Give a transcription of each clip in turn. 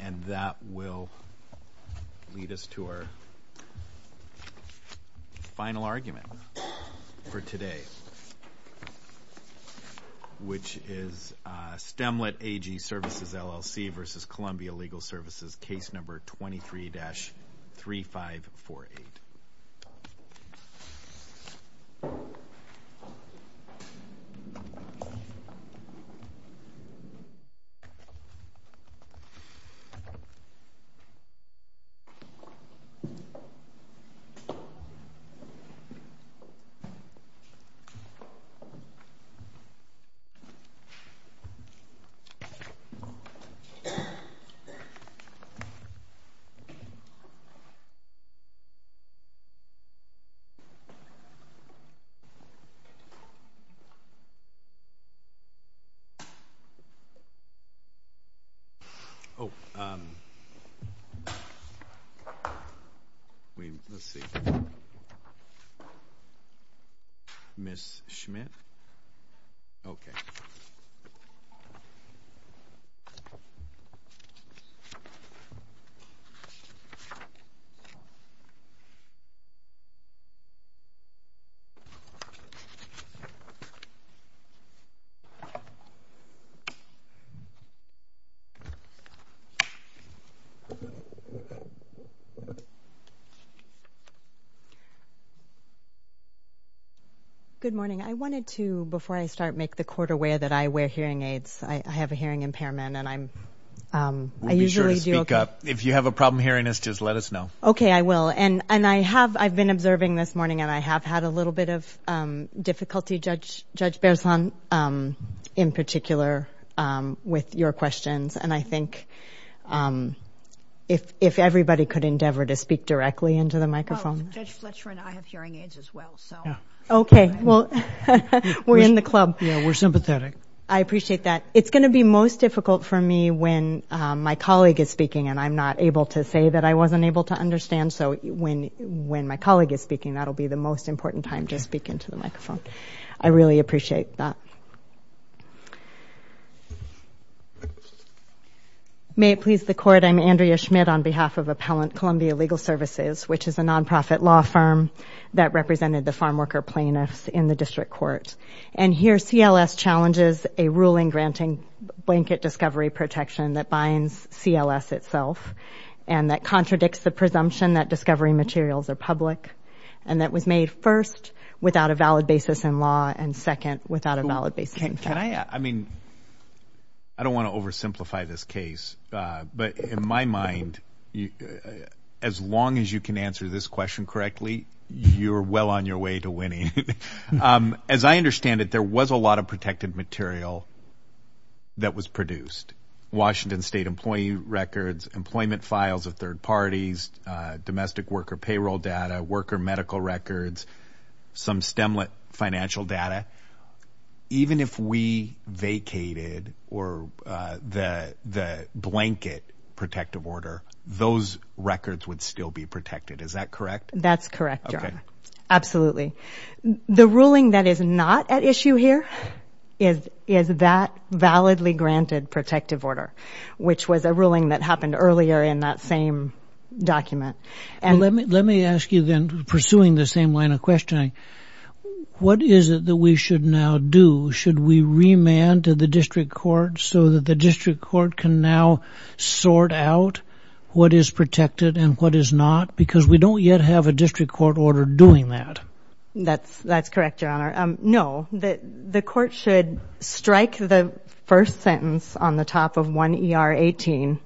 And that will lead us to our final argument for today, which is Stemilt AG Services, LLC versus Columbia Legal Services versus case number 23-3548. Oh, let's see. Ms. Schmidt? Okay. I'm not aware that I wear hearing aids. I have a hearing impairment and I usually do okay. If you have a problem hearing this, just let us know. Okay, I will. And I have, I've been observing this morning and I have had a little bit of difficulty, Judge Berzon, in particular with your questions, and I think if everybody could endeavor to speak directly into the microphone. Well, Judge Fletcher and I have hearing aids as well, so. Okay. Well, we're in the club. Yeah, we're sympathetic. I appreciate that. It's going to be most difficult for me when my colleague is speaking and I'm not able to say that I wasn't able to understand, so when my colleague is speaking, that'll be the most important time to speak into the microphone. I really appreciate that. May it please the Court, I'm Andrea Schmidt on behalf of Appellant Columbia Legal Services, which is a nonprofit law firm that represented the farmworker plaintiffs in the District Court. And here, CLS challenges a ruling granting blanket discovery protection that binds CLS itself, and that contradicts the presumption that discovery materials are public, and that was made first, without a valid basis in law, and second, without a valid basis in fact. Can I, I mean, I don't want to oversimplify this case, but in my mind, as long as you can answer this question correctly, you're well on your way to winning. As I understand it, there was a lot of protected material that was produced, Washington State employee records, employment files of third parties, domestic worker payroll data, worker medical records, some stemlet financial data. Even if we vacated or the blanket protective order, those records would still be protected. Is that correct? That's correct, Your Honor. Absolutely. The ruling that is not at issue here is that validly granted protective order, which was a ruling that happened earlier in that same document. Let me ask you then, pursuing the same line of questioning, what is it that we should now do? Should we remand to the District Court so that the District Court can now sort out what is protected and what is not? Because we don't yet have a District Court order doing that. That's correct, Your Honor. No, the court should strike the first sentence on the top of 1 ER 18,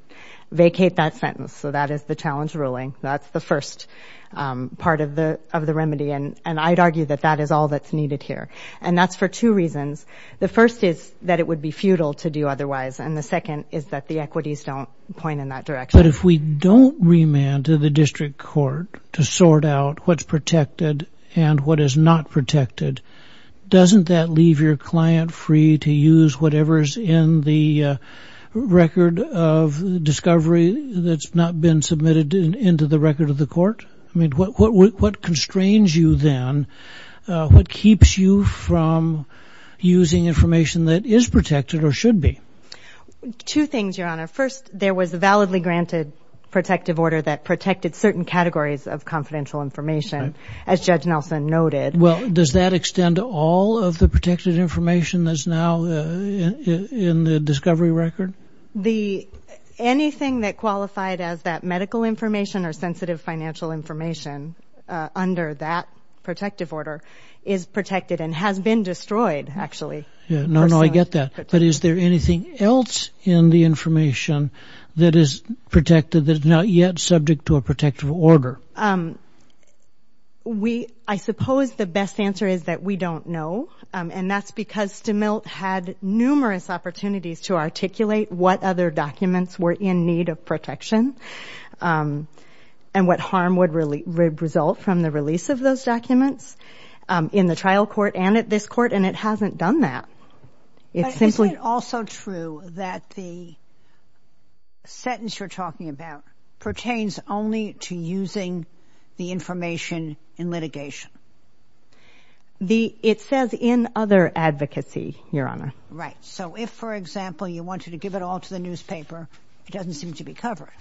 vacate that sentence. So that is the challenge ruling. That's the first part of the remedy. And I'd argue that that is all that's needed here. And that's for two reasons. The first is that it would be futile to do otherwise. And the second is that the equities don't point in that direction. But if we don't remand to the District Court to sort out what's protected and what is not protected, doesn't that leave your client free to use whatever's in the record of discovery that's not been submitted into the record of the court? What constrains you then? What keeps you from using information that is protected or should be? Two things, Your Honor. First, there was a validly granted protective order that protected certain categories of confidential information, as Judge Nelson noted. Well, does that extend to all of the protected information that's now in the discovery record? Anything that qualified as that medical information or sensitive financial information under that protective order is protected and has been destroyed, actually. No, no, I get that. But is there anything else in the information that is protected that is not yet subject to a protective order? I suppose the best answer is that we don't know. And that's because Stemilt had numerous opportunities to articulate what other documents were in need of protection and what harm would result from the release of those documents in the trial court and at this court. And it hasn't done that. But isn't it also true that the sentence you're talking about pertains only to using the information in litigation? It says, in other advocacy, Your Honor. Right. So if, for example, you wanted to give it all to the newspaper, it doesn't seem to be covered.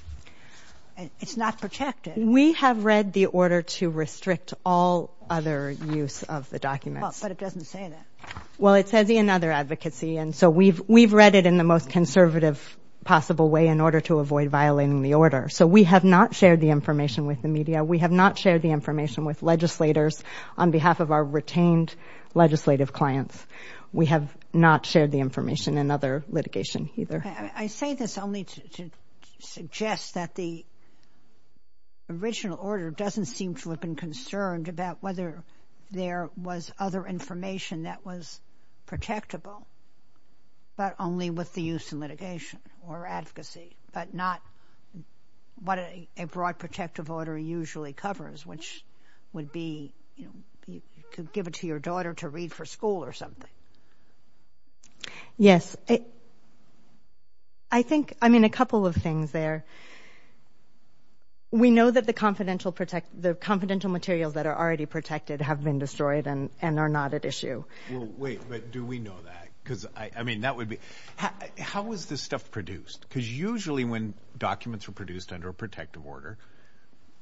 It's not protected. We have read the order to restrict all other use of the documents. But it doesn't say that. Well, it says in other advocacy. And so we've read it in the most conservative possible way in order to avoid violating the So we have not shared the information with the media. We have not shared the information with legislators on behalf of our retained legislative clients. We have not shared the information in other litigation either. I say this only to suggest that the original order doesn't seem to have been concerned about whether there was other information that was protectable, but only with the use in litigation or advocacy, but not what a broad protective order usually covers, which would be, you know, you could give it to your daughter to read for school or something. Yes. I think, I mean, a couple of things there. First, we know that the confidential materials that are already protected have been destroyed and are not at issue. Well, wait, but do we know that? Because I mean, that would be, how was this stuff produced? Because usually when documents were produced under a protective order,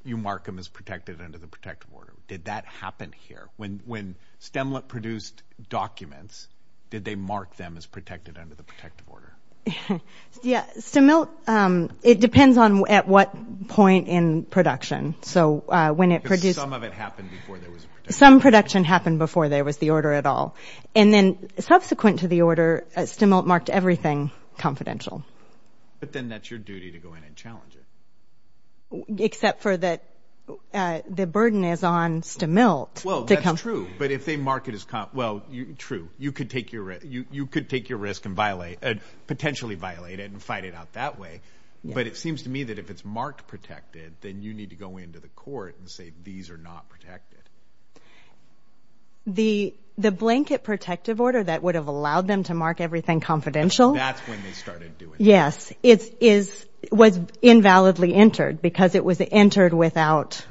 you mark them as protected under the protective order. Did that happen here? When Stemlet produced documents, did they mark them as protected under the protective order? Yeah, Stemlet, it depends on at what point in production. So when it produced... Because some of it happened before there was a protective order. Some production happened before there was the order at all. And then subsequent to the order, Stemlet marked everything confidential. But then that's your duty to go in and challenge it. Except for that the burden is on Stemlet to come... Well, that's true. But if they mark it as, well, true. You could take your risk and violate it, potentially violate it and fight it out that way. But it seems to me that if it's marked protected, then you need to go into the court and say, these are not protected. The blanket protective order that would have allowed them to mark everything confidential? That's when they started doing it. Yes. It was invalidly entered because it was entered without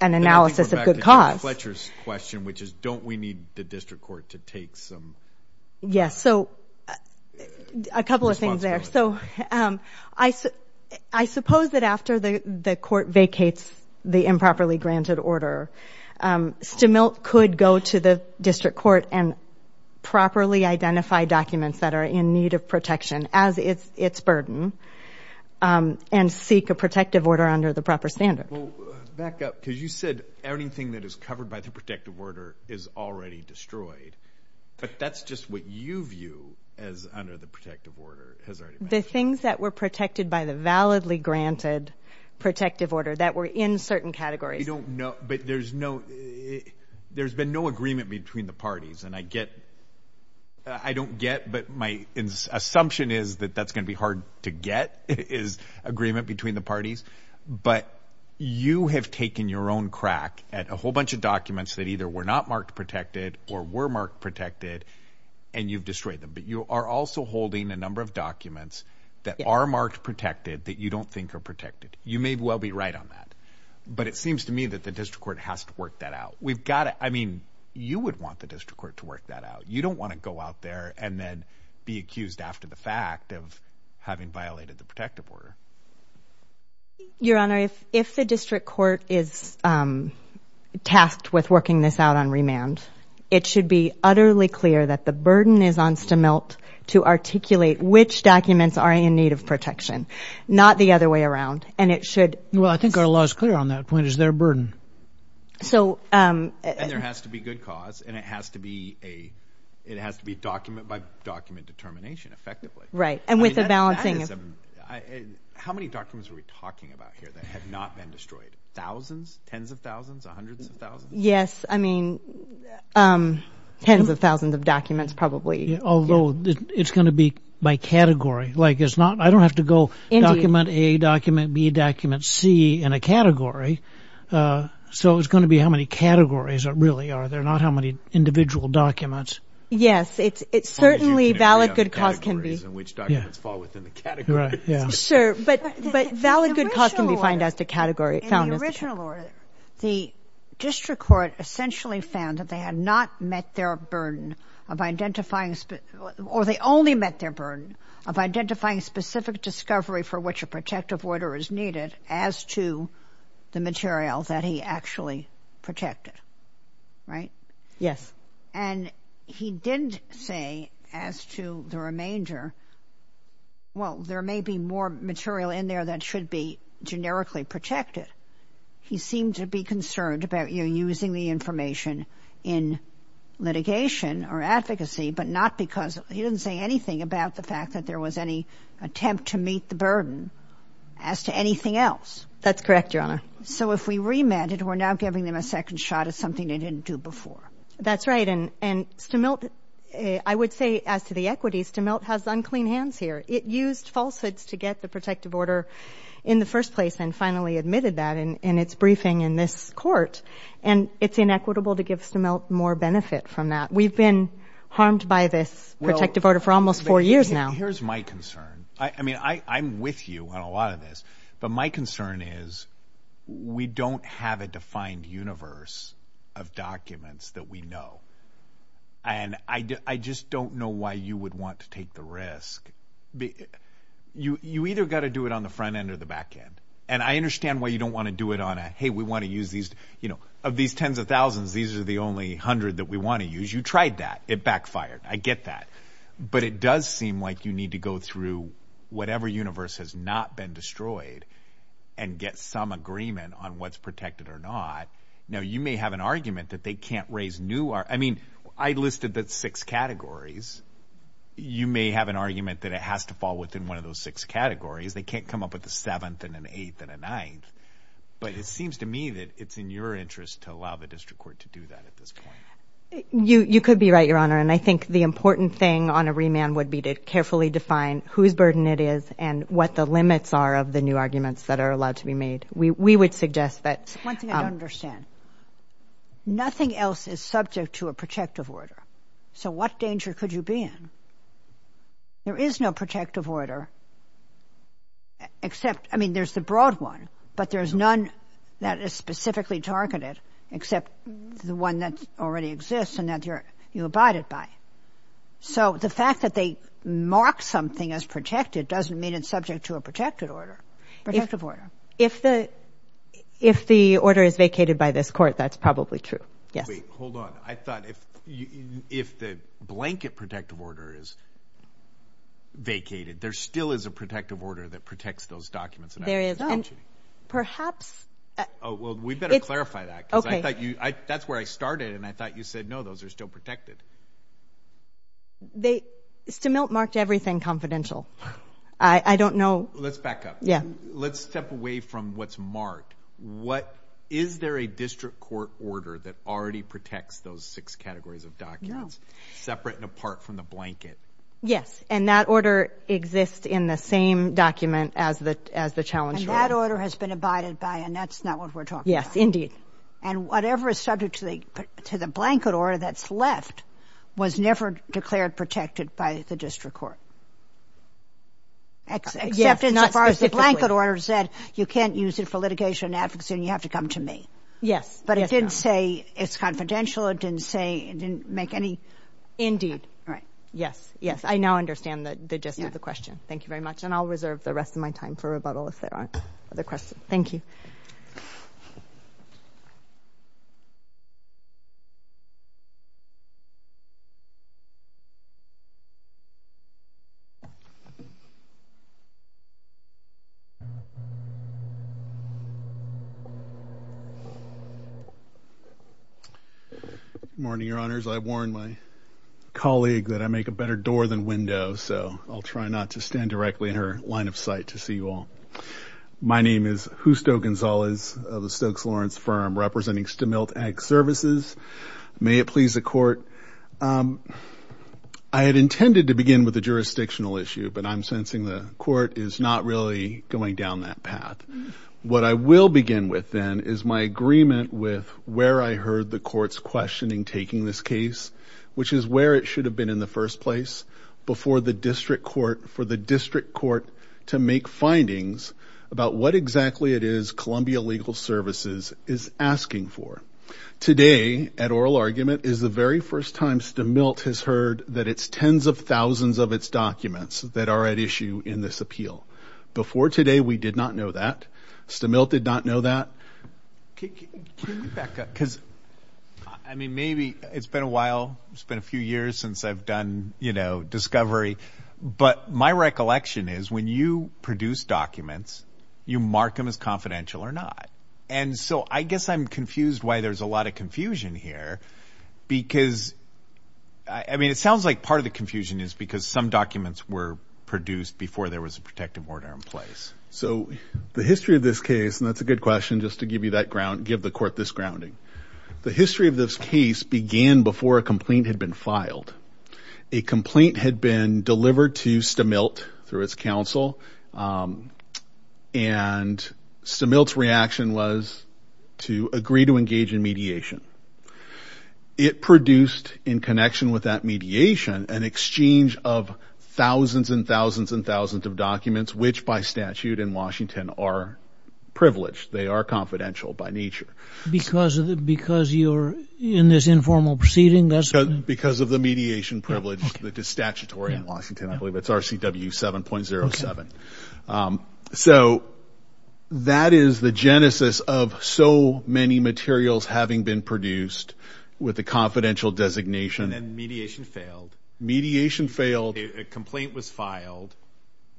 an analysis of good cause. I'm going to go back to Fletcher's question, which is, don't we need the district court to take some responsibility? Yes. So a couple of things there. I suppose that after the court vacates the improperly granted order, Stemlet could go to the district court and properly identify documents that are in need of protection as its burden and seek a protective order under the proper standard. Well, back up, because you said anything that is covered by the protective order is already destroyed. But that's just what you view as under the protective order has already been destroyed. The things that were protected by the validly granted protective order that were in certain categories. We don't know, but there's been no agreement between the parties. And I don't get, but my assumption is that that's going to be hard to get, is agreement between the parties. But you have taken your own crack at a whole bunch of documents that either were not marked protected or were marked protected and you've destroyed them. But you are also holding a number of documents that are marked protected that you don't think are protected. You may well be right on that. But it seems to me that the district court has to work that out. We've got to, I mean, you would want the district court to work that out. You don't want to go out there and then be accused after the fact of having violated the protective order. Your Honor, if the district court is tasked with working this out on remand, it should be utterly clear that the burden is on Stemilt to articulate which documents are in need of protection, not the other way around. And it should. Well, I think our law is clear on that point. Is there a burden? So there has to be good cause and it has to be a, it has to be document by document determination effectively. Right. How many documents are we talking about here that have not been destroyed? Tens of thousands? Hundreds of thousands? Yes. I mean, tens of thousands of documents probably. Although it's going to be by category. Like it's not, I don't have to go document A, document B, document C in a category. So it's going to be how many categories really are there, not how many individual documents. Yes. It's certainly valid good cause can be. Categories in which documents fall within the category. Yeah. Sure. But valid good cause can be found as the category. In the original order, the district court essentially found that they had not met their burden of identifying, or they only met their burden of identifying specific discovery for which a protective order is needed as to the material that he actually protected. Right? Yes. And he didn't say as to the remainder, well, there may be more material in there that should be generically protected. He seemed to be concerned about using the information in litigation or advocacy, but not because he didn't say anything about the fact that there was any attempt to meet the burden as to anything else. That's correct, Your Honor. So if we remanded, we're now giving them a second shot at something they didn't do before. That's right. And Stemilt, I would say as to the equities, Stemilt has unclean hands here. It used falsehoods to get the protective order in the first place and finally admitted that in its briefing in this court. And it's inequitable to give Stemilt more benefit from that. We've been harmed by this protective order for almost four years now. Here's my concern. I mean, I'm with you on a lot of this, but my concern is we don't have a defined universe of documents that we know. And I just don't know why you would want to take the risk. You either got to do it on the front end or the back end. And I understand why you don't want to do it on a, hey, we want to use these, you know, of these tens of thousands, these are the only hundred that we want to use. You tried that. It backfired. I get that. But it does seem like you need to go through whatever universe has not been destroyed and get some agreement on what's protected or not. Now, you may have an argument that they can't raise new, I mean, I listed that six categories. You may have an argument that it has to fall within one of those six categories. They can't come up with a seventh and an eighth and a ninth. But it seems to me that it's in your interest to allow the district court to do that at this point. You could be right, Your Honor. And I think the important thing on a remand would be to carefully define whose burden it is and what the limits are of the new arguments that are allowed to be made. We would suggest that. One thing I don't understand. Nothing else is subject to a protective order. So what danger could you be in? There is no protective order except, I mean, there's the broad one, but there's none that is specifically targeted except the one that already exists and that you abide it by. So the fact that they mark something as protected doesn't mean it's subject to a protective order. Protective order. If the order is vacated by this court, that's probably true. Hold on. I thought if the blanket protective order is vacated, there still is a protective order that protects those documents. There is. Oh, gee. Perhaps. Oh, well, we'd better clarify that. Okay. Because I thought you, that's where I started. And I thought you said, no, those are still protected. They, Stemilt marked everything confidential. I don't know. Let's back up. Yeah. Let's step away from what's marked. What, is there a district court order that already protects those six categories of documents separate and apart from the blanket? Yes. And that order exists in the same document as the, as the challenge. That order has been abided by and that's not what we're talking about. And whatever is subject to the, to the blanket order that's left was never declared protected by the district court. Except, except as far as the blanket order said, you can't use it for litigation and advocacy and you have to come to me. Yes. But it didn't say it's confidential. It didn't say, it didn't make any. Right. Yes. Yes. I now understand the, the gist of the question. Thank you very much. And I'll reserve the rest of my time for rebuttal if there aren't other questions. Thank you. Good morning, your honors. I warned my colleague that I make a better door than window, so I'll try not to stand directly in her line of sight to see you all. My name is Justo Gonzalez of the Stokes Lawrence firm representing Stemilt Ag Services. May it please the court. I had intended to begin with the jurisdictional issue, but I'm sensing the court is not really going down that path. What I will begin with then is my agreement with where I heard the court's questioning taking this case, which is where it should have been in the first place before the district court for the district court to make findings about what exactly it is Columbia Legal Services is asking for. Today, at oral argument, is the very first time Stemilt has heard that it's tens of thousands of its documents that are at issue in this appeal. Before today, we did not know that. Stemilt did not know that. Can you, can you back up, because, I mean, maybe it's been a while, it's been a few years since I've done, you know, discovery, but my recollection is when you produce documents, you mark them as confidential or not. And so I guess I'm confused why there's a lot of confusion here, because, I mean, it sounds like part of the confusion is because some documents were produced before there was a protective order in place. So the history of this case, and that's a good question, just to give you that ground, give the court this grounding. The history of this case began before a complaint had been filed. A complaint had been delivered to Stemilt through its counsel, and Stemilt's reaction was to agree to engage in mediation. It produced, in connection with that mediation, an exchange of thousands and thousands and thousands of documents, which by statute in Washington are privileged. They are confidential by nature. Because you're in this informal proceeding? Because of the mediation privilege that is statutory in Washington, I believe it's RCW 7.07. So that is the genesis of so many materials having been produced with a confidential designation. And mediation failed. Mediation failed. A complaint was filed.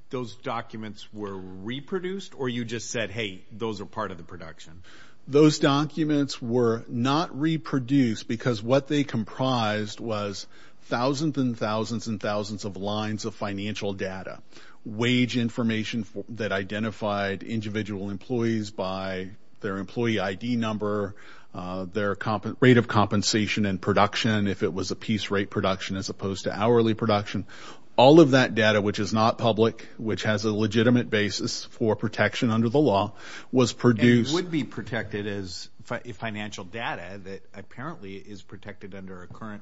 Those documents were reproduced, or you just said, hey, those are part of the production? Those documents were not reproduced because what they comprised was thousands and thousands and thousands of lines of financial data, wage information that identified individual employees by their employee ID number, their rate of compensation and production, if it was a piece rate production as opposed to hourly production. All of that data, which is not public, which has a legitimate basis for protection under the law, was produced. And would be protected as financial data that apparently is protected under a current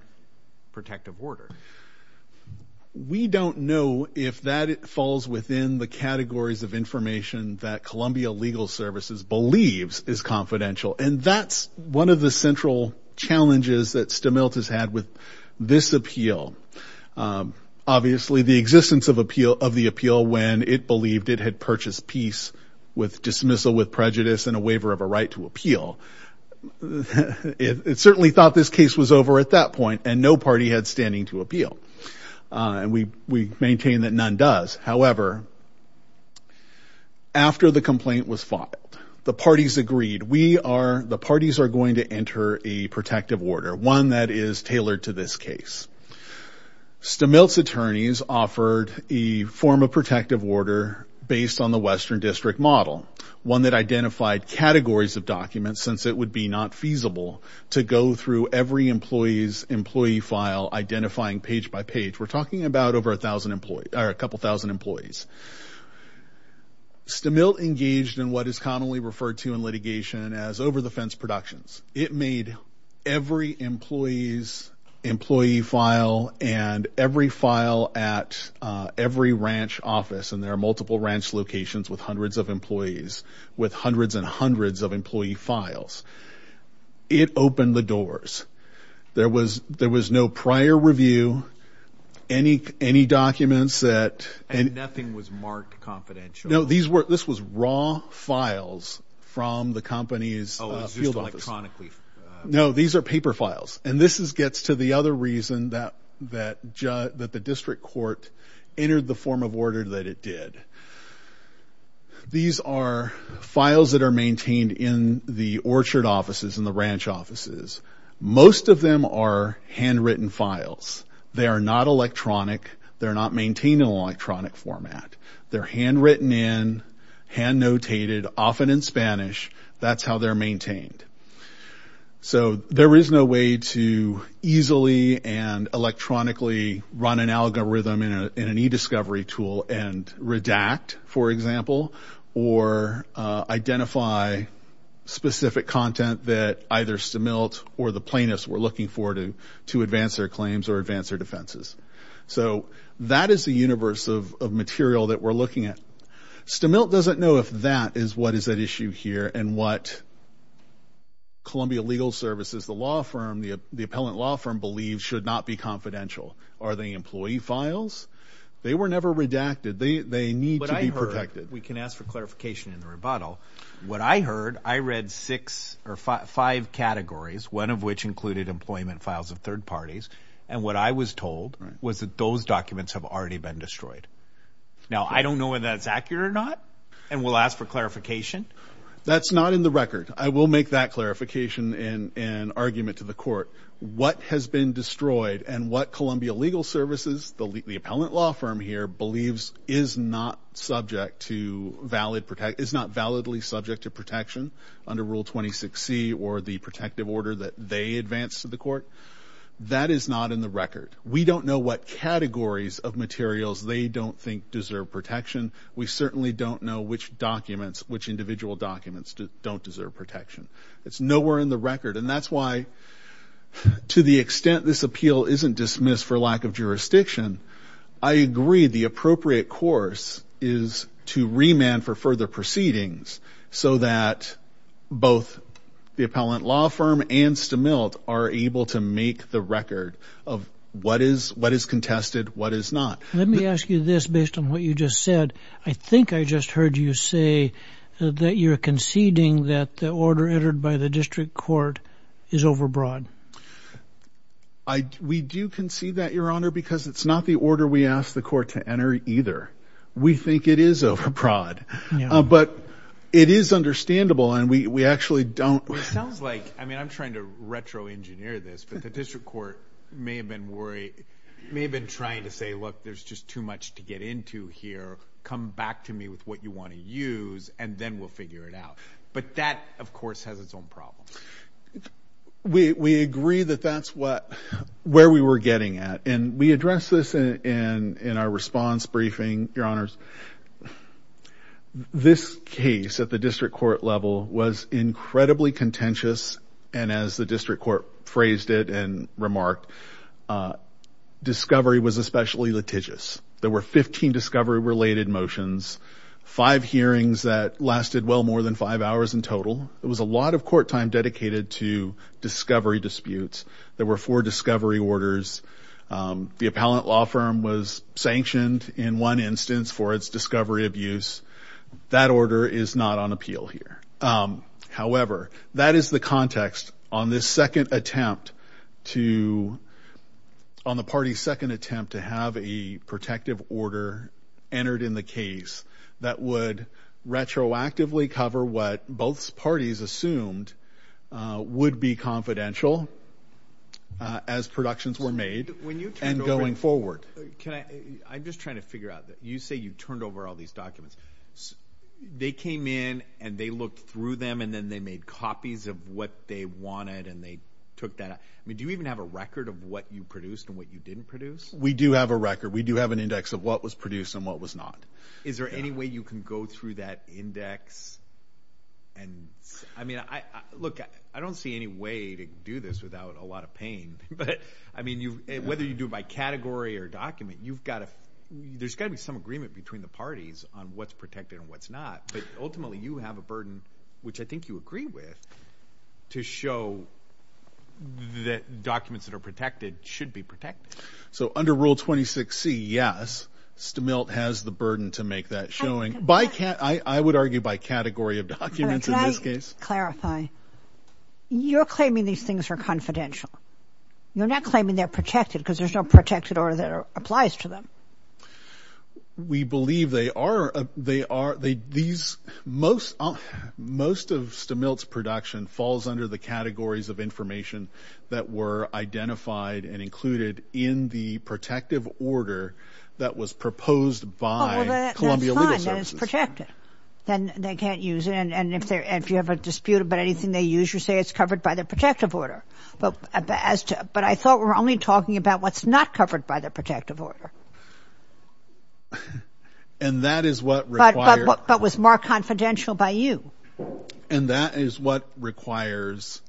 protective order. We don't know if that falls within the categories of information that Columbia Legal Services believes is confidential. And that's one of the central challenges that Stemilt has had with this appeal. Obviously, the existence of the appeal when it believed it had purchased peace with dismissal with prejudice and a waiver of a right to appeal, it certainly thought this case was over at that point and no party had standing to appeal. And we maintain that none does. However, after the complaint was filed, the parties agreed, the parties are going to enter a protective order, one that is tailored to this case. Stemilt's attorneys offered a form of protective order based on the Western District model, one that identified categories of documents since it would be not feasible to go through every employee's employee file, identifying page by page. We're talking about over a couple thousand employees. Stemilt engaged in what is commonly referred to in litigation as over the fence productions. It made every employee's employee file and every file at every ranch office, and there are multiple ranch locations with hundreds of employees, with hundreds and hundreds of employee files. It opened the doors. There was no prior review, any documents that... And nothing was marked confidential. No, this was raw files from the company's field office. No, these are paper files. And this gets to the other reason that the district court entered the form of order that it did. These are files that are maintained in the orchard offices and the ranch offices. Most of them are handwritten files. They are not electronic. They're not maintained in an electronic format. They're handwritten in, hand notated, often in Spanish. That's how they're maintained. So there is no way to easily and electronically run an algorithm in an e-discovery tool and redact, for example, or identify specific content that either Stemilt or the plaintiffs were looking for to advance their claims or advance their defenses. So that is the universe of material that we're looking at. Stemilt doesn't know if that is what is at issue here and what Columbia Legal Services, the law firm, the appellant law firm, believes should not be confidential. Are they employee files? They were never redacted. They need to be protected. What I heard, we can ask for clarification in the rebuttal. What I heard, I read six or five categories, one of which included employment files of third parties. And what I was told was that those documents have already been destroyed. Now, I don't know whether that's accurate or not. And we'll ask for clarification. That's not in the record. I will make that clarification in an argument to the court. What has been destroyed and what Columbia Legal Services, the appellant law firm here, believes is not subject to valid, is not validly subject to protection under Rule 26C or the protective order that they advanced to the court. That is not in the record. We don't know what categories of materials they don't think deserve protection. We certainly don't know which documents, which individual documents don't deserve protection. It's nowhere in the record. And that's why, to the extent this appeal isn't dismissed for lack of jurisdiction, I agree the appropriate course is to remand for further proceedings so that both the appellant and the district court can decide what is contested, what is not. Let me ask you this based on what you just said. I think I just heard you say that you're conceding that the order entered by the district court is overbroad. We do concede that, Your Honor, because it's not the order we asked the court to enter either. We think it is overbroad. But it is understandable, and we actually don't... It sounds like, I mean, I'm trying to retro-engineer this, but the district court may have been worried, may have been trying to say, look, there's just too much to get into here. Come back to me with what you want to use, and then we'll figure it out. But that, of course, has its own problems. We agree that that's where we were getting at. And we addressed this in our response briefing, Your Honors. This case at the district court level was incredibly contentious. And as the district court phrased it and remarked, discovery was especially litigious. There were 15 discovery-related motions, five hearings that lasted well more than five hours in total. It was a lot of court time dedicated to discovery disputes. There were four discovery orders. The appellant law firm was sanctioned in one instance for its discovery abuse. That order is not on appeal here. However, that is the context on this second attempt to... On the party's second attempt to have a protective order entered in the case that would retroactively cover what both parties assumed would be confidential as productions were made and going forward. I'm just trying to figure out that. You say you turned over all these documents. They came in and they looked through them and then they made copies of what they wanted and they took that. I mean, do you even have a record of what you produced and what you didn't produce? We do have a record. We do have an index of what was produced and what was not. Is there any way you can go through that index? I mean, look, I don't see any way to do this without a lot of pain. But I mean, whether you do it by category or document, there's got to be some agreement between the parties on what's protected and what's not. But ultimately, you have a burden, which I think you agree with, to show that documents that are protected should be protected. So under Rule 26C, yes, Stemilt has the burden to make that showing. I would argue by category of documents in this case. Can I clarify? You're claiming these things are confidential. You're not claiming they're protected because there's no protected order that applies to them. We believe they are. Most of Stemilt's production falls under the categories of information that were identified and included in the protective order that was proposed by Columbia Legal Services. That's fine. Then they can't use it. And if you have a dispute about anything they use, you say it's covered by the protective order. But I thought we were only talking about what's not covered by the protective order. And that is what requires... But was more confidential by you. And that is what requires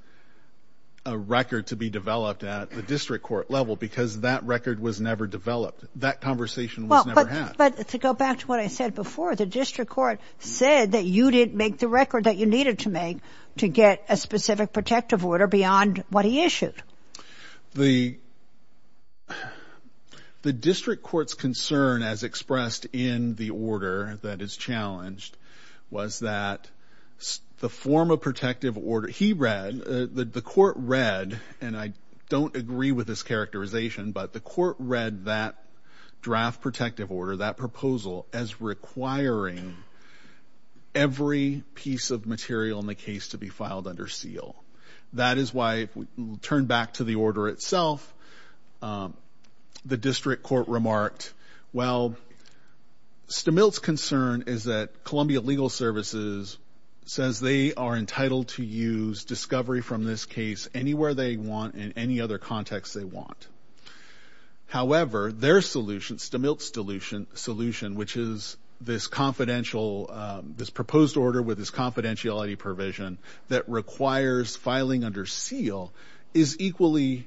a record to be developed at the district court level, because that record was never developed. That conversation was never had. But to go back to what I said before, the district court said that you didn't make the record that you needed to make to get a specific protective order beyond what he issued. The district court's concern as expressed in the order that is challenged was that the form of protective order he read, the court read, and I don't agree with this characterization, but the court read that draft protective order, that proposal, as requiring every piece of material in the case to be filed under seal. That is why, turn back to the order itself, the district court remarked, well, Stemilt's concern is that Columbia Legal Services says they are entitled to use discovery from this case anywhere they want in any other context they want. However, their solution, Stemilt's solution, which is this proposed order with this confidentiality provision that requires filing under seal, is equally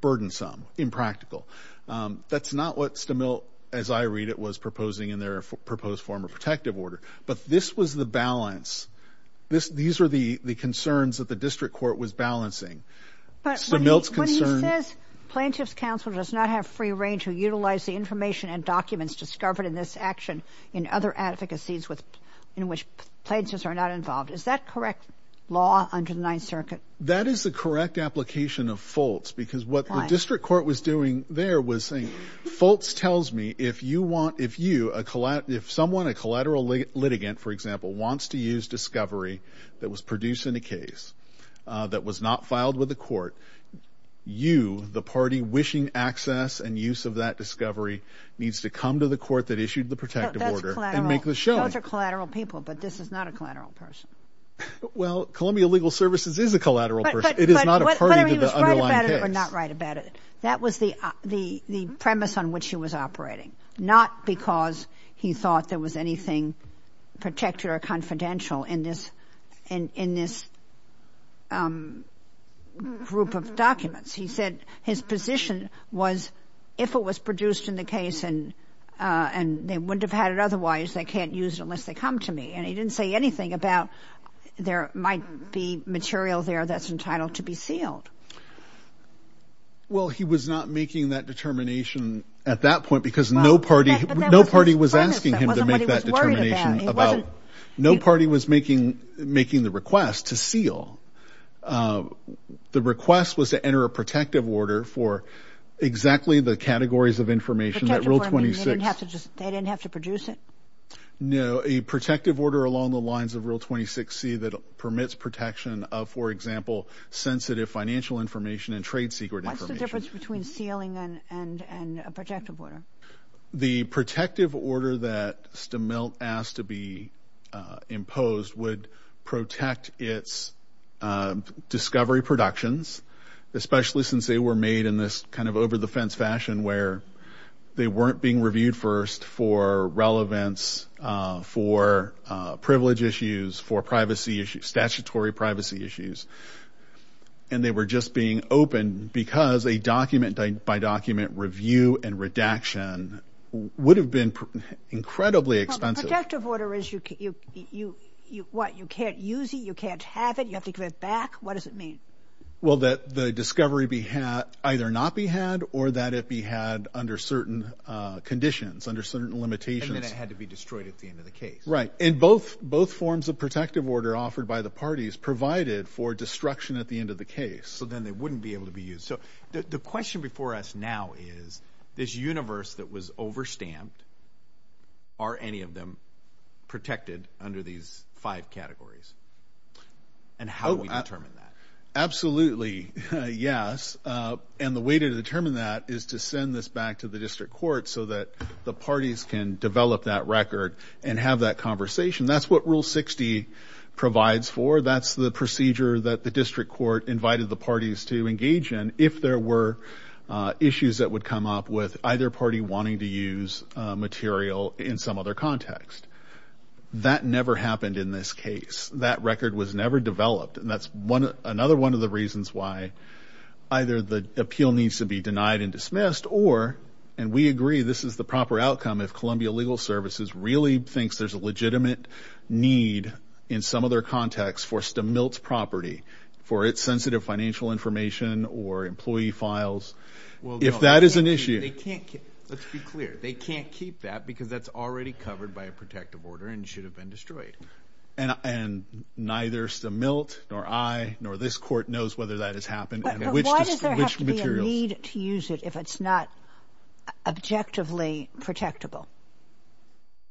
burdensome, impractical. That's not what Stemilt, as I read it, was proposing in their proposed form of protective order. But this was the balance. These were the concerns that the district court was balancing. Stemilt's concern... But when he says Plaintiff's counsel does not have free reign to utilize the information and documents discovered in this action in other advocacies in which plaintiffs are not involved, is that correct law under the Ninth Circuit? That is the correct application of Foltz, because what the district court was doing there was saying, Foltz tells me if you want, if you, if someone, a collateral litigant, for example, wants to use discovery that was produced in a case that was not filed with the court, you, the party wishing access and use of that discovery, needs to come to the court that issued the protective order and make the showing. Those are collateral people, but this is not a collateral person. Well, Columbia Legal Services is a collateral person. It is not a party to the underlying case. You are not right about it. That was the, the, the premise on which he was operating. Not because he thought there was anything protective or confidential in this, in, in this group of documents. He said his position was if it was produced in the case and, and they wouldn't have had it otherwise, they can't use it unless they come to me. And he didn't say anything about there might be material there that's entitled to be sealed. Well, he was not making that determination at that point because no party, no party was asking him to make that determination about, no party was making, making the request to The request was to enter a protective order for exactly the categories of information that Rule 26. They didn't have to just, they didn't have to produce it? No. A protective order along the lines of Rule 26C that permits protection of, for example, sensitive financial information and trade secret information. What's the difference between sealing and, and, and a protective order? The protective order that Stemilt asked to be imposed would protect its discovery productions, especially since they were made in this kind of over the fence fashion where they weren't being reviewed first for relevance, for privilege issues, for privacy issues, statutory privacy issues. And they were just being opened because a document by document review and redaction would have been incredibly expensive. Protective order is you, you, you, you, what, you can't use it? You can't have it? You have to give it back? What does it mean? Well, that the discovery be had, either not be had or that it be had under certain conditions, under certain limitations. And then it had to be destroyed at the end of the case. Right. And both, both forms of protective order offered by the parties provided for destruction at the end of the case. So then they wouldn't be able to be used. So the question before us now is this universe that was over stamped, are any of them protected under these five categories? And how do we determine that? Absolutely. Yes. And the way to determine that is to send this back to the district court so that the parties can develop that record and have that conversation. That's what rule 60 provides for. That's the procedure that the district court invited the parties to engage in. If there were issues that would come up with either party wanting to use material in some other context. That never happened in this case. That record was never developed. And that's one, another one of the reasons why either the appeal needs to be denied and dismissed or, and we agree this is the proper outcome if Columbia Legal Services really thinks there's a legitimate need in some other context for Stemilt's property, for its sensitive financial information or employee files. If that is an issue. They can't keep, let's be clear, they can't keep that because that's already covered by a protective order and should have been destroyed. And neither Stemilt nor I, nor this court knows whether that has happened and which materials. Why does there have to be a need to use it if it's not objectively protectable?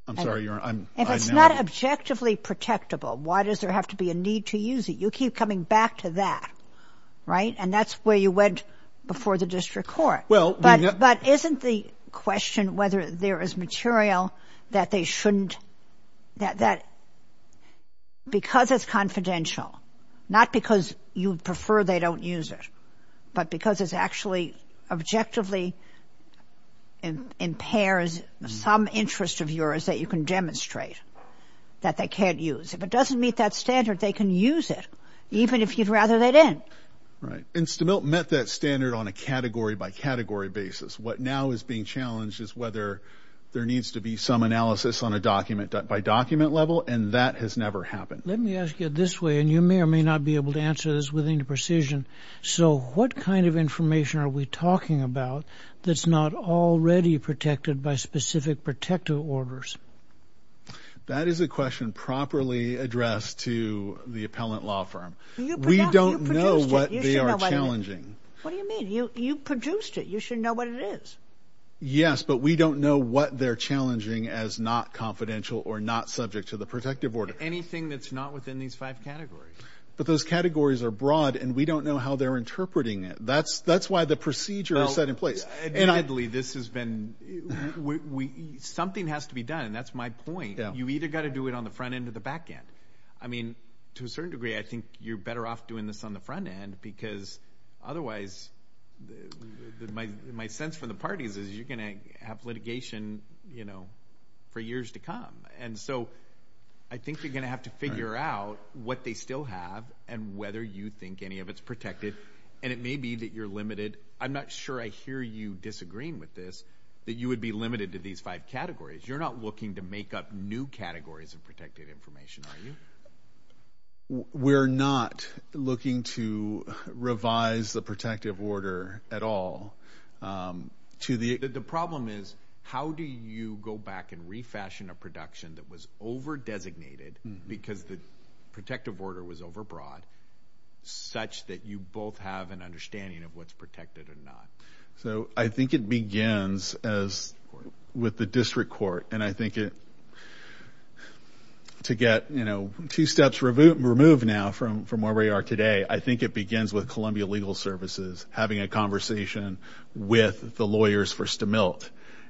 I'm sorry, Your Honor, I'm, I'm. If it's not objectively protectable, why does there have to be a need to use it? You keep coming back to that, right? And that's where you went before the district court. Well. But, but isn't the question whether there is material that they shouldn't, that, that because it's confidential, not because you prefer they don't use it, but because it's actually objectively impairs some interest of yours that you can demonstrate that they can't use. If it doesn't meet that standard, they can use it, even if you'd rather they didn't. Right. And Stemilt met that standard on a category by category basis. What now is being challenged is whether there needs to be some analysis on a document by document level, and that has never happened. Let me ask you this way, and you may or may not be able to answer this with any precision. So what kind of information are we talking about that's not already protected by specific protective orders? That is a question properly addressed to the appellant law firm. We don't know what they are challenging. What do you mean? You produced it. You should know what it is. Yes, but we don't know what they're challenging as not confidential or not subject to the protective order. Anything that's not within these five categories. But those categories are broad, and we don't know how they're interpreting it. That's why the procedure is set in place. Admittedly, this has been... Something has to be done. That's my point. You either got to do it on the front end or the back end. I mean, to a certain degree, I think you're better off doing this on the front end because otherwise, my sense from the parties is you're going to have litigation for years to come. And so, I think you're going to have to figure out what they still have and whether you think any of it's protected, and it may be that you're limited. I'm not sure I hear you disagreeing with this, that you would be limited to these five categories. You're not looking to make up new categories of protected information, are you? We're not looking to revise the protective order at all. The problem is, how do you go back and refashion a production that was over-designated because the protective order was over-broad, such that you both have an understanding of what's protected or not? So, I think it begins with the district court. And I think to get two steps removed now from where we are today, I think it begins with having a conversation with the lawyers for Stemilt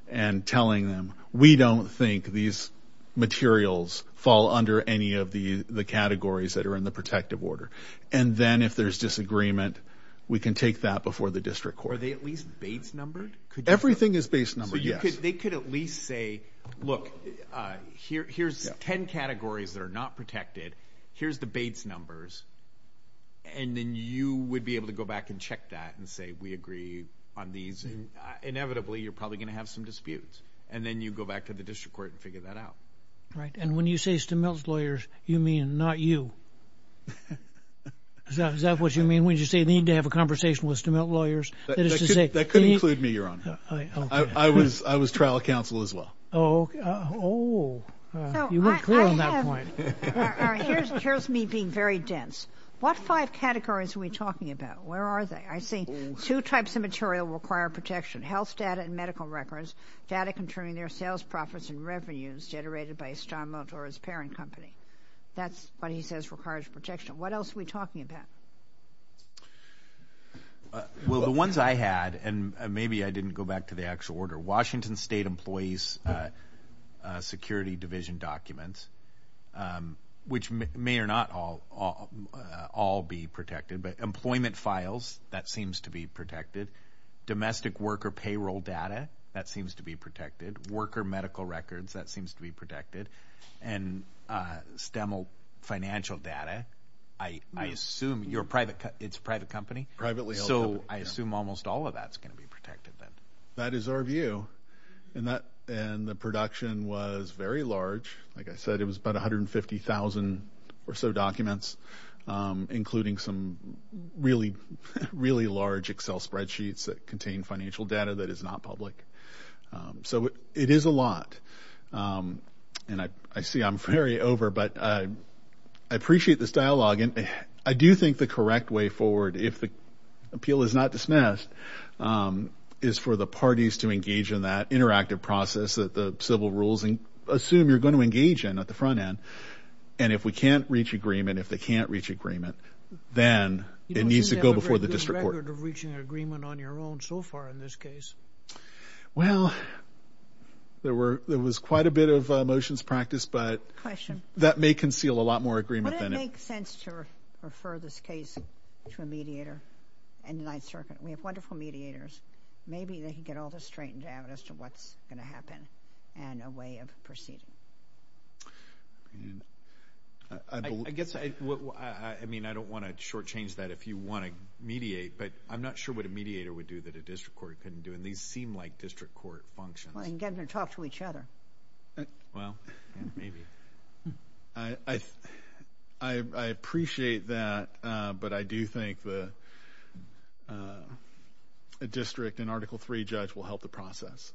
and telling them, we don't think these materials fall under any of the categories that are in the protective order. And then, if there's disagreement, we can take that before the district court. Are they at least base-numbered? Everything is base-numbered, yes. So, they could at least say, look, here's 10 categories that are not protected. Here's the base numbers. And then, you would be able to go back and check that and say, we agree on these. Inevitably, you're probably going to have some disputes. And then, you go back to the district court and figure that out. Right. And when you say Stemilt's lawyers, you mean not you? Is that what you mean? When you say they need to have a conversation with Stemilt lawyers? That could include me, Your Honor. I was trial counsel as well. Oh. Oh. You weren't clear on that point. All right. Here's me being very dense. What five categories are we talking about? Where are they? I see two types of material require protection, health data and medical records, data concerning their sales profits and revenues generated by Stemilt or his parent company. That's what he says requires protection. What else are we talking about? Well, the ones I had, and maybe I didn't go back to the actual order, the Washington State Employees Security Division documents, which may or not all be protected, but employment files, that seems to be protected, domestic worker payroll data, that seems to be protected, worker medical records, that seems to be protected, and Stemilt financial data, I assume it's a private company. Privately held company. So, I assume almost all of that is going to be protected. That is our view. And the production was very large. Like I said, it was about 150,000 or so documents, including some really, really large Excel spreadsheets that contained financial data that is not public. So, it is a lot. And I see I'm very over, but I appreciate this dialogue. I do think the correct way forward, if the appeal is not dismissed, is for the parties to engage in that interactive process that the civil rules assume you're going to engage in at the front end. And if we can't reach agreement, if they can't reach agreement, then it needs to go before the district court. You don't seem to have a very good record of reaching an agreement on your own so far in this case. Well, there was quite a bit of motions practiced, but that may conceal a lot more agreement than it. It would make sense to refer this case to a mediator in the Ninth Circuit. We have wonderful mediators. Maybe they can get all this straightened out as to what's going to happen and a way of proceeding. I guess, I mean, I don't want to shortchange that if you want to mediate, but I'm not sure what a mediator would do that a district court couldn't do, and these seem like district court functions. Well, they can get in and talk to each other. Well, maybe. I appreciate that, but I do think the district and Article III judge will help the process.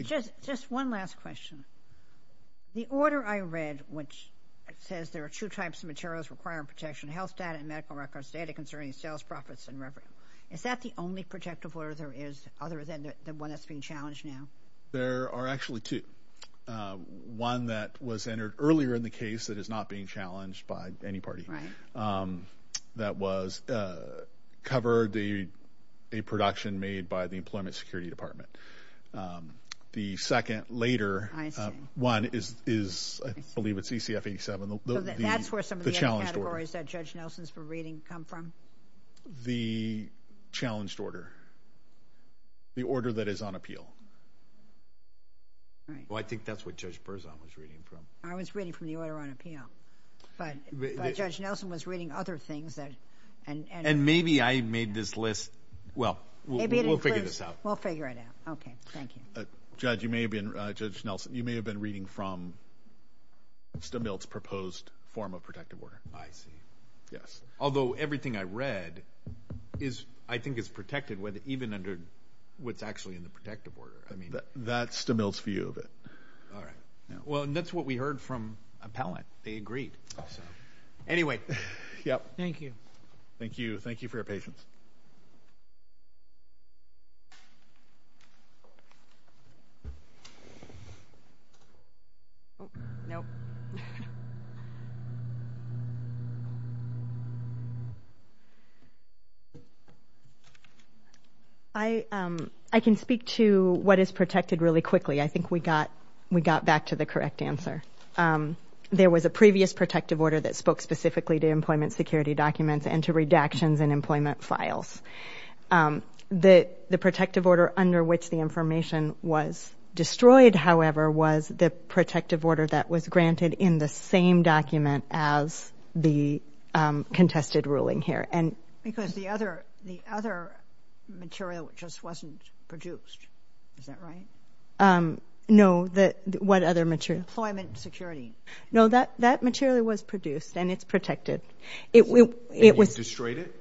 Just one last question. The order I read, which says there are two types of materials requiring protection, health data and medical records, data concerning sales, profits, and revenue. Is that the only protective order there is other than the one that's being challenged now? There are actually two. One that was entered earlier in the case that is not being challenged by any party. That was covered, a production made by the Employment Security Department. The second later one is, I believe it's ECF 87. That's where some of the other categories that Judge Nelson's been reading come from? The challenged order. The order that is on appeal. Well, I think that's what Judge Berzon was reading from. I was reading from the order on appeal, but Judge Nelson was reading other things. And maybe I made this list. Well, we'll figure this out. We'll figure it out. Okay, thank you. Judge Nelson, you may have been reading from Stumbelt's proposed form of protective order. I see. Yes. Although everything I read I think is protected even under what's actually in the protective order. That's Stumbelt's view of it. All right. Well, that's what we heard from Appellant. They agreed. Anyway. Thank you. Thank you. Thank you for your patience. I can speak to what is protected really quickly. I think we got back to the correct answer. There was a previous protective order that spoke specifically to employment security documents and to redactions and employment files. The protective order under which the information was destroyed, however, was the protective order that was granted in the same document as the contested ruling here. Because the other material just wasn't produced. Is that right? No. What other material? Employment security. No, that material was produced, and it's protected. And you destroyed it?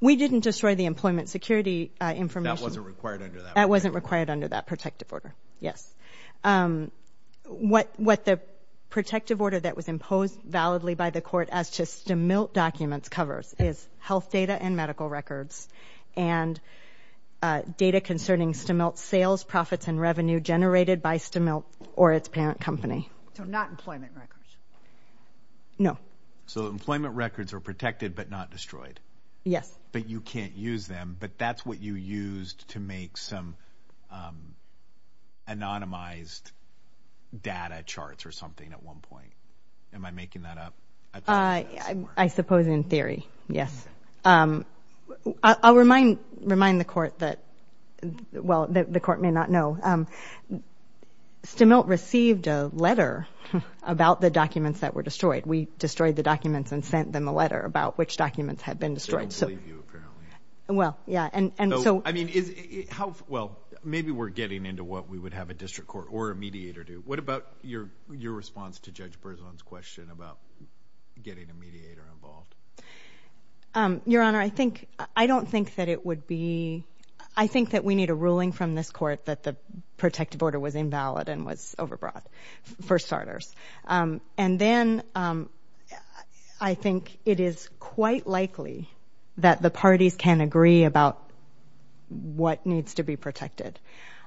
We didn't destroy the employment security information. That wasn't required under that protective order. That wasn't required under that protective order. Yes. What the protective order that was imposed validly by the court as to STMILT documents covers is health data and medical records and data concerning STMILT sales, profits, and revenue generated by STMILT or its parent company. So not employment records? No. So employment records are protected but not destroyed? Yes. But you can't use them, but that's what you used to make some anonymized data charts or something at one point. Am I making that up? I suppose in theory, yes. I'll remind the court that, well, the court may not know. STMILT received a letter about the documents that were destroyed. We destroyed the documents and sent them a letter about which documents had been destroyed. They don't believe you apparently. Well, yeah. I mean, maybe we're getting into what we would have a district court or a mediator do. What about your response to Judge Berzon's question about getting a mediator involved? Your Honor, I don't think that it would be – I think that we need a ruling from this court that the protective order was invalid and was overbought for starters. And then I think it is quite likely that the parties can agree about what needs to be protected.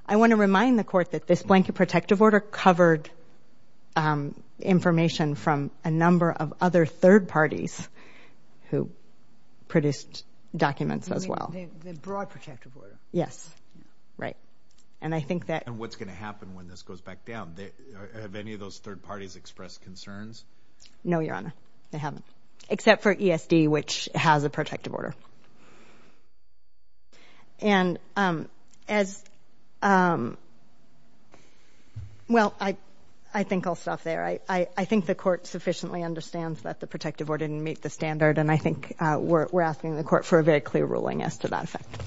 I want to remind the court that this blanket protective order covered information from a number of other third parties who produced documents as well. The broad protective order? Yes. Right. And I think that – And what's going to happen when this goes back down? Have any of those third parties expressed concerns? No, Your Honor. They haven't. Except for ESD, which has a protective order. And as – well, I think I'll stop there. I think the court sufficiently understands that the protective order didn't meet the standard, and I think we're asking the court for a very clear ruling as to that effect.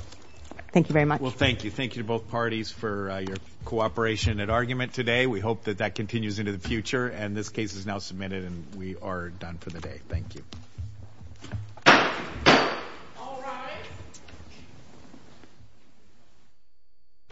Thank you very much. Well, thank you. Thank you to both parties for your cooperation and argument today. We hope that that continues into the future. And this case is now submitted, and we are done for the day. Thank you.